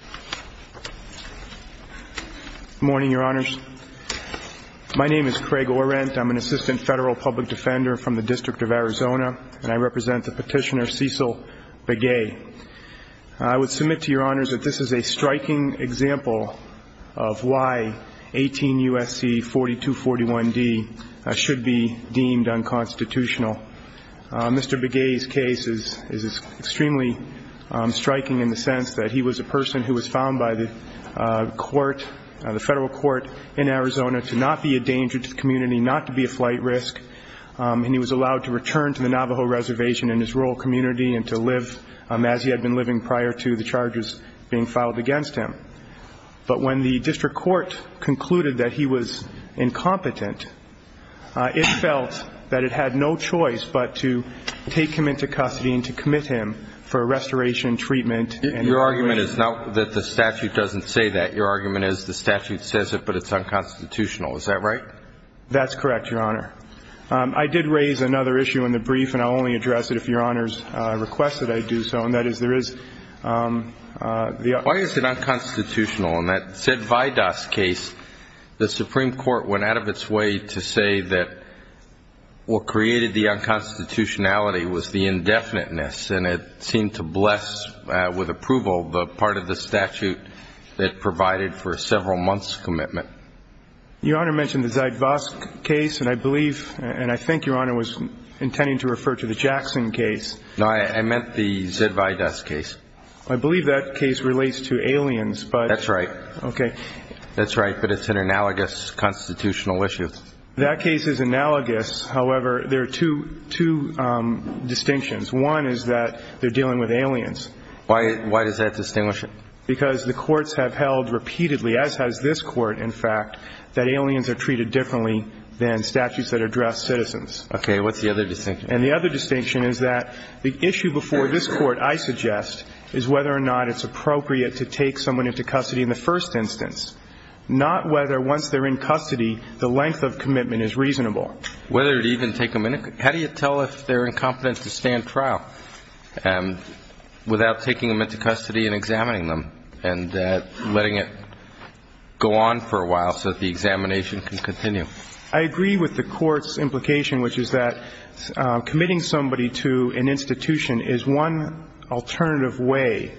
Good morning, your honors. My name is Craig Orrent. I'm an assistant federal public defender from the District of Arizona, and I represent the petitioner Cecil Begay. I would submit to your honors that this is a striking example of why 18 U.S.C. 4241D should be deemed unconstitutional. Mr. Begay's case is extremely striking in the sense that he was a person who was found by the court, the federal court in Arizona, to not be a danger to the community, not to be a flight risk, and he was allowed to return to the Navajo reservation in his rural community and to live as he had been living prior to the charges being filed against him. But when the district court concluded that he was incompetent, it felt that it had no choice but to take him into custody and to commit him for restoration, treatment, and evaluation. Your argument is not that the statute doesn't say that. Your argument is the statute says it, but it's unconstitutional. Is that right? That's correct, your honor. I did raise another issue in the brief, and I'll only address it if your honors request that I do so, and that is there is the... Why is it unconstitutional? In that Zydweidas case, the Supreme Court went out of its way to say that what created the unconstitutionality was the indefiniteness, and it seemed to bless with approval the part of the statute that provided for a several months' commitment. Your honor mentioned the Zydweidas case, and I believe, and I think your honor was intending to refer to the Jackson case. No, I meant the Zydweidas case. I believe that case relates to aliens, but... That's right. Okay. That's right, but it's an analogous constitutional issue. That case is analogous. However, there are two distinctions. One is that they're dealing with aliens. Why does that distinguish it? Because the courts have held repeatedly, as has this court, in fact, that aliens are treated differently than statutes that address citizens. Okay. What's the other distinction? And the other distinction is that the issue before this court, I suggest, is whether or not it's appropriate to take someone into custody in the first instance, not whether, once they're in custody, the length of commitment is reasonable. Whether to even take them in? How do you tell if they're incompetent to stand trial without taking them into custody and examining them and letting it go on for a while so that the examination can continue? I agree with the court's implication, which is that committing somebody to an institution is one alternative way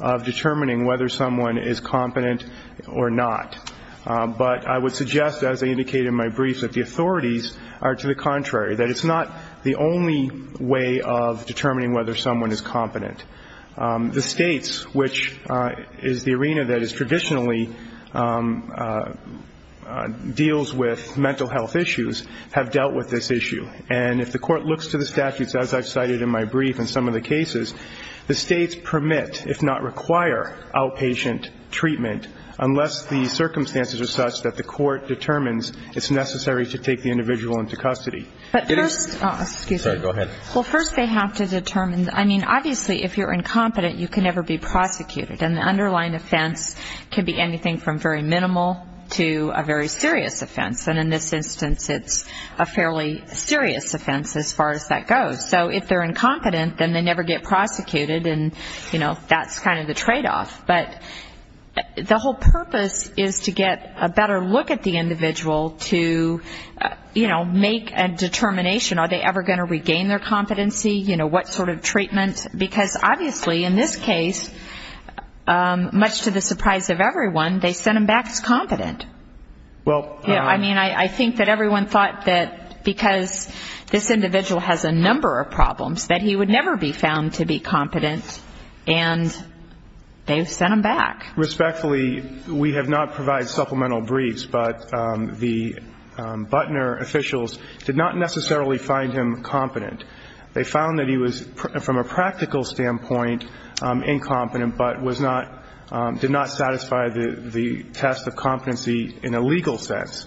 of determining whether someone is competent or not. But I would suggest, as I indicated in my brief, that the authorities are to the contrary, that it's not the only way of determining whether someone is competent. The states, which is the arena that is traditionally deals with mental health issues, have dealt with this issue. And if the court looks to the statutes, as I've cited in my brief in some of the cases, the states permit, if not require, outpatient treatment unless the circumstances are such that the court determines it's necessary to take the individual into custody. But first they have to determine. I mean, obviously, if you're going to take somebody in, if you're incompetent, you can never be prosecuted. And the underlying offense can be anything from very minimal to a very serious offense. And in this instance, it's a fairly serious offense as far as that goes. So if they're incompetent, then they never get prosecuted. And, you know, that's kind of the tradeoff. But the whole purpose is to get a better look at the individual to, you know, make a determination. Are they ever going to regain their competency? You know, what sort of treatment? Because obviously in this case, much to the surprise of everyone, they sent him back as competent. I mean, I think that everyone thought that because this individual has a number of problems, that he would never be found to be competent. And they've sent him back. Respectfully, we have not provided supplemental briefs, but the Butner officials did not necessarily find him competent. They found that he was, from a practical standpoint, incompetent, but did not satisfy the test of competency in a legal sense.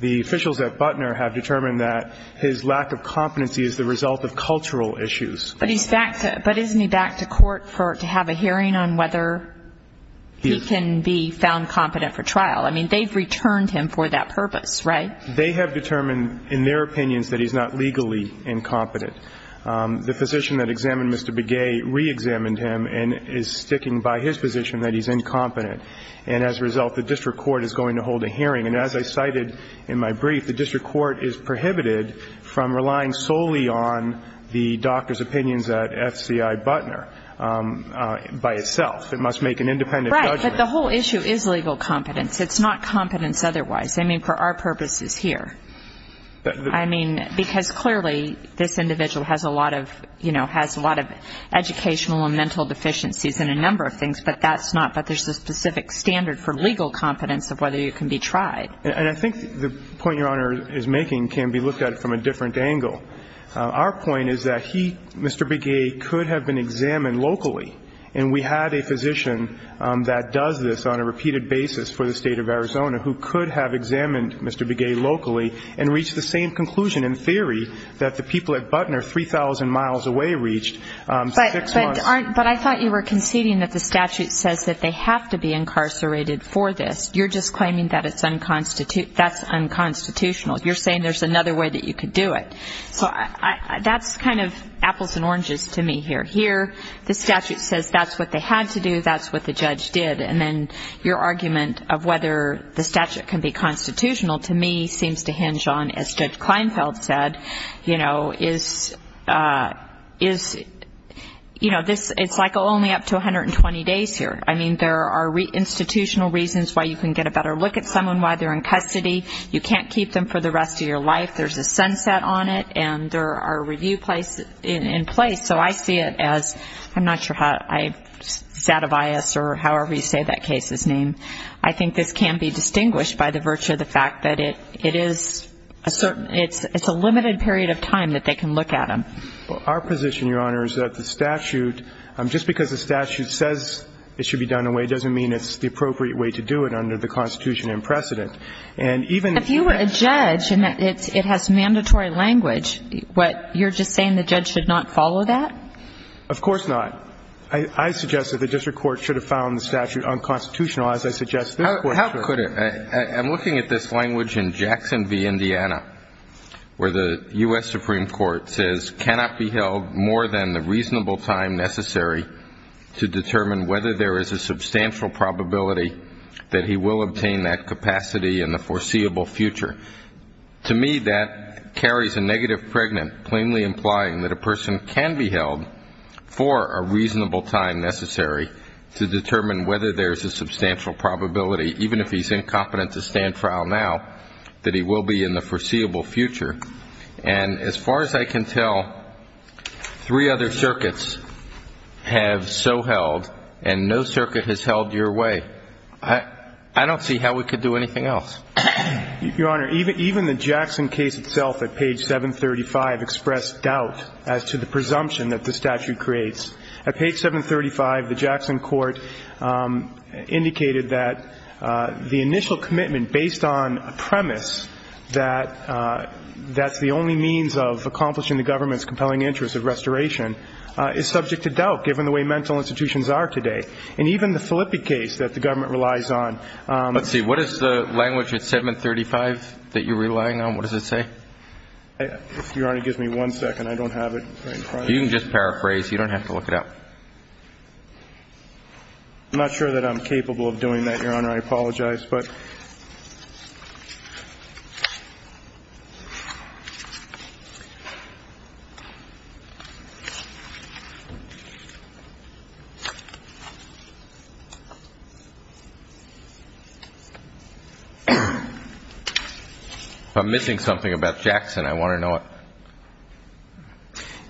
The officials at Butner have determined that his lack of competency is the result of cultural issues. But isn't he back to court to have a hearing on whether he can be found competent for trial? I mean, they've returned him for that purpose, right? They have determined in their opinions that he's not legally incompetent. The physician that examined Mr. Begay reexamined him and is sticking by his position that he's incompetent. And as a result, the district court is going to hold a hearing. And as I cited in my brief, the district court is prohibited from relying solely on the doctor's opinions at FCI Butner by itself. It must make an independent judgment. Right. But the whole issue is legal competence. It's not competence otherwise. I mean, for our purposes here. I mean, because clearly this individual has a lot of, you know, has a lot of educational and mental deficiencies and a number of things, but that's not, but there's a specific standard for legal competence of whether you can be tried. And I think the point Your Honor is making can be looked at from a different angle. Our point is that he, Mr. Begay, could have been examined locally. And we had a physician that does this on a repeated basis for the State of Arizona who could have examined Mr. Begay locally and reached the same conclusion in theory that the people at Butner 3,000 miles away reached six months. But I thought you were conceding that the statute says that they have to be incarcerated for this. You're just claiming that it's unconstitutional. You're saying there's another way that you could do it. So that's kind of apples and oranges to me here. Here the statute says that's what they had to do, that's what the judge did. And then your argument of whether the statute can be constitutional to me seems to hinge on, as Judge Kleinfeld said, you know, it's like only up to 120 days here. I mean, there are institutional reasons why you can get a better look at someone while they're in custody. You can't keep them for the rest of your life. There's a sunset on it, and there are review in place. So I see it as, I'm not sure how, Zadavias or however you say that case's name, I think this can be distinguished by the virtue of the fact that it is a certain, it's a limited period of time that they can look at him. Well, our position, Your Honor, is that the statute, just because the statute says it should be done away doesn't mean it's the appropriate way to do it under the Constitution and precedent. And even if you were a judge and it has mandatory language, you're just saying the judge should not follow that? Of course not. I suggest that the district court should have found the statute unconstitutional, as I suggest their court should have. How could it? I'm looking at this language in Jackson v. Indiana where the U.S. Supreme Court says cannot be held more than the reasonable time necessary to determine whether there is a substantial probability that he will obtain that capacity in the foreseeable future. To me, that carries a negative pregnant, plainly implying that a person can be held for a reasonable time necessary to determine whether there is a substantial probability, even if he's incompetent to stand trial now, that he will be in the foreseeable future. And as far as I can tell, three other circuits have so held and no circuit has held your way. I don't see how we could do anything else. Your Honor, even the Jackson case itself at page 735 expressed doubt as to the presumption that the statute creates. At page 735, the Jackson court indicated that the initial commitment based on a premise that that's the only means of accomplishing the government's compelling interest of restoration is subject to doubt given the way mental institutions are today. And even the Filippi case that the government relies on. Let's see. What is the language at 735 that you're relying on? What does it say? Your Honor, give me one second. I don't have it. You can just paraphrase. You don't have to look it up. I'm not sure that I'm capable of doing that, Your Honor. I apologize. If I'm missing something about Jackson, I want to know it.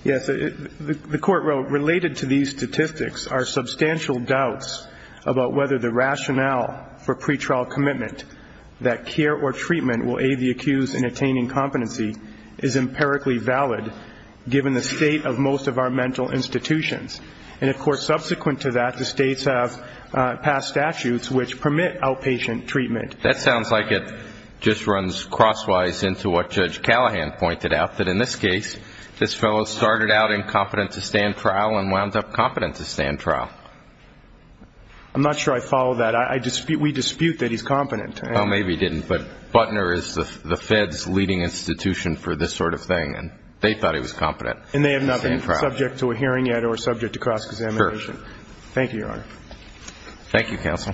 Yes. The court wrote, related to these statistics are substantial doubts about whether the rationale for pretrial commitment that care or treatment will aid the accused in attaining competency is empirically valid given the state of most of our mental institutions. And, of course, subsequent to that, the states have passed statutes which permit outpatient treatment. That sounds like it just runs crosswise into what Judge Callahan pointed out, that in this case this fellow started out incompetent to stand trial and wound up competent to stand trial. I'm not sure I follow that. We dispute that he's competent. Well, maybe he didn't, but Butner is the Fed's leading institution for this sort of thing, and they thought he was competent to stand trial. And they have not been subject to a hearing yet or subject to cross-examination. Sure. Thank you, Your Honor. Thank you, counsel.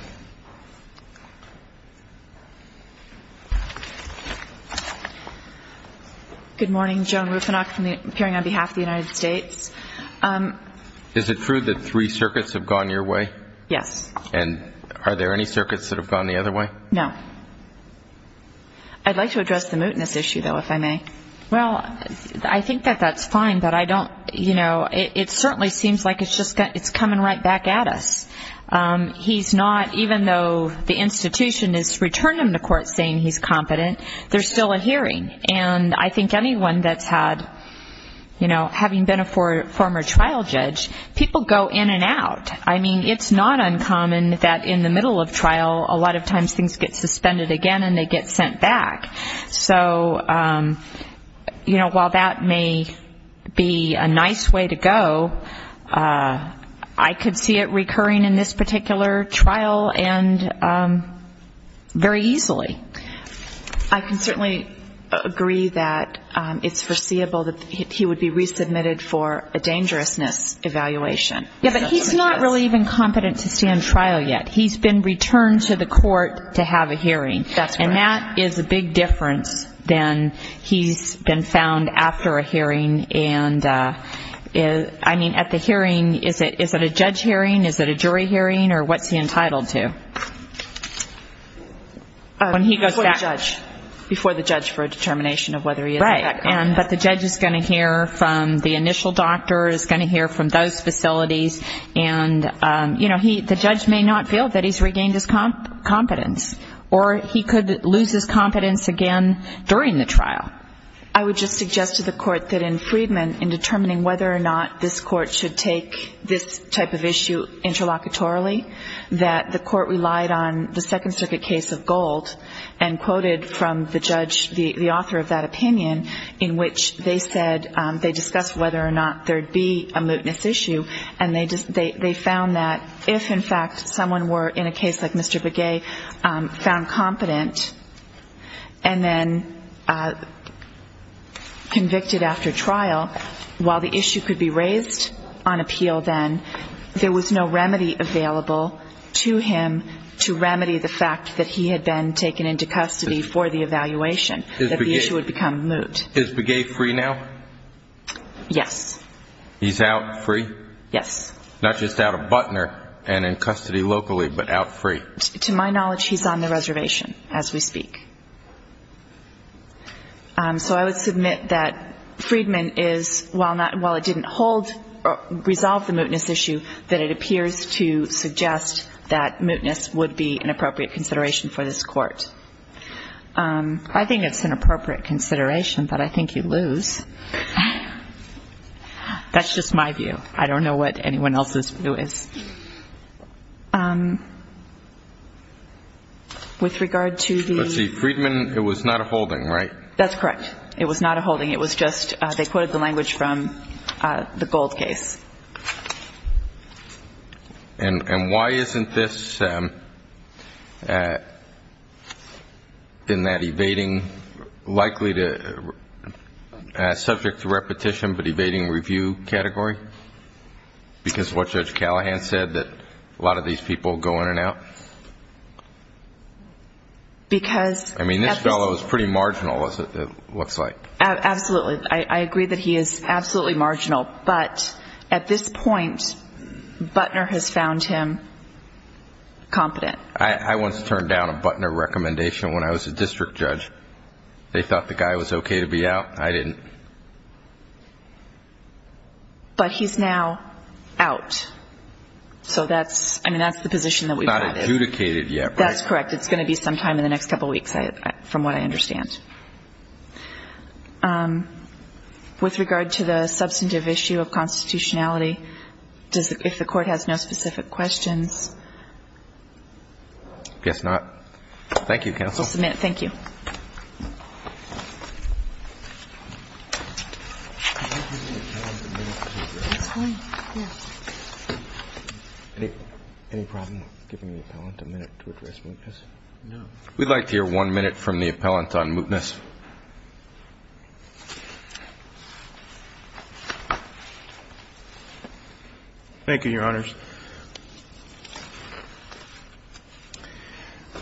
Good morning. Joan Rufinock, appearing on behalf of the United States. Is it true that three circuits have gone your way? Yes. And are there any circuits that have gone the other way? No. I'd like to address the mootness issue, though, if I may. Well, I think that that's fine, but I don't, you know, it certainly seems like it's coming right back at us. He's not, even though the institution has returned him to court saying he's competent, there's still a hearing. And I think anyone that's had, you know, having been a former trial judge, people go in and out. I mean, it's not uncommon that in the middle of trial a lot of times things get suspended again and they get sent back. So, you know, while that may be a nice way to go, I could see it recurring in this particular trial and very easily. I can certainly agree that it's foreseeable that he would be resubmitted for a dangerousness evaluation. Yeah, but he's not really even competent to stand trial yet. He's been returned to the court to have a hearing. That's right. And that's a big difference than he's been found after a hearing. And I mean, at the hearing, is it a judge hearing, is it a jury hearing, or what's he entitled to? Before the judge. Before the judge for a determination of whether he is in fact competent. Right. But the judge is going to hear from the initial doctor, is going to hear from those facilities. And, you know, the judge may not feel that he's regained his competence. Or he could lose his competence again during the trial. I would just suggest to the court that in Friedman, in determining whether or not this court should take this type of issue interlocutorily, that the court relied on the Second Circuit case of Gold and quoted from the judge, the author of that opinion, in which they said they discussed whether or not there would be a mootness issue. And they found that if, in fact, someone were, in a case like Mr. Begay, found competent, and then convicted after trial, while the issue could be raised on appeal then, there was no remedy available to him to remedy the fact that he had been taken into custody for the evaluation, that the issue would become moot. Is Begay free now? Yes. He's out free? Yes. Not just out of Butner and in custody locally, but out free? To my knowledge, he's on the reservation as we speak. So I would submit that Friedman is, while it didn't hold or resolve the mootness issue, that it appears to suggest that mootness would be an appropriate consideration for this court. I think it's an appropriate consideration, but I think you lose. That's just my view. I don't know what anyone else's view is. With regard to the ---- But, see, Friedman, it was not a holding, right? That's correct. It was not a holding. It was just they quoted the language from the Gold case. And why isn't this, in that evading, likely subject to repetition but evading review category? Because of what Judge Callahan said, that a lot of these people go in and out? Because ---- I mean, this fellow is pretty marginal, it looks like. Absolutely. I agree that he is absolutely marginal. But at this point, Butner has found him competent. I once turned down a Butner recommendation when I was a district judge. They thought the guy was okay to be out. I didn't. But he's now out. So that's, I mean, that's the position that we've had. He's not adjudicated yet, right? That's correct. It's going to be sometime in the next couple weeks, from what I understand. With regard to the substantive issue of constitutionality, if the Court has no specific questions? I guess not. Thank you, counsel. Just a minute. Thank you. Any problem giving the appellant a minute to address mootness? No. We'd like to hear one minute from the appellant on mootness. Thank you, Your Honors.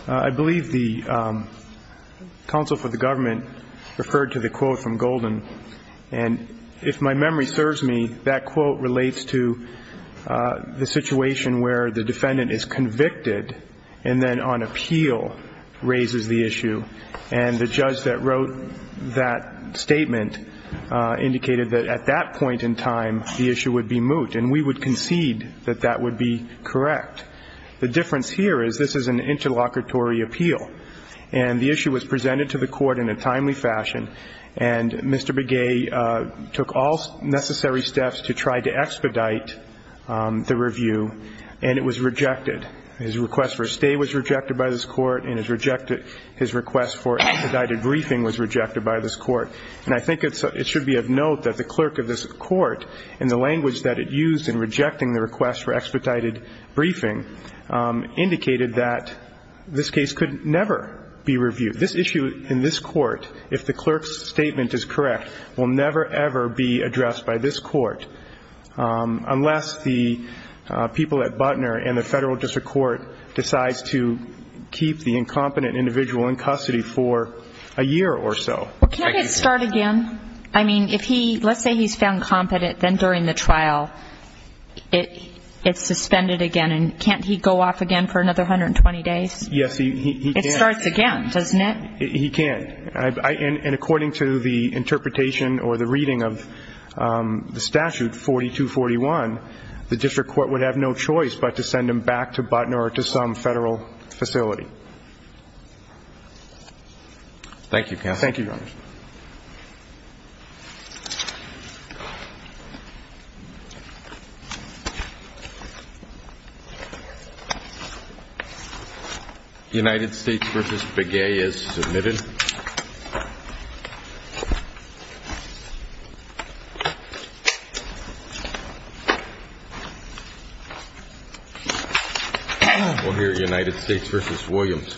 I believe the counsel for the government referred to the quote from Golden. And if my memory serves me, that quote relates to the situation where the defendant is convicted and then on appeal raises the issue. And the judge that wrote that statement indicated that at that point in time, the issue would be moot. And we would concede that that would be correct. The difference here is this is an interlocutory appeal. And the issue was presented to the Court in a timely fashion. And Mr. Begay took all necessary steps to try to expedite the review. And it was rejected. His request for a stay was rejected by this Court. And his request for expedited briefing was rejected by this Court. And I think it should be of note that the clerk of this Court, in the language that it used in rejecting the request for expedited briefing, indicated that this case could never be reviewed. This issue in this Court, if the clerk's statement is correct, will never, ever be addressed by this Court. Unless the people at Butner and the Federal District Court decide to keep the incompetent individual in custody for a year or so. Well, can't it start again? I mean, if he, let's say he's found competent, then during the trial it's suspended again. And can't he go off again for another 120 days? Yes, he can. It starts again, doesn't it? He can. And according to the interpretation or the reading of the statute, 4241, the District Court would have no choice but to send him back to Butner or to some Federal facility. Thank you, counsel. Thank you, Your Honor. United States v. Begay is submitted. We'll hear United States v. Williams. Thank you.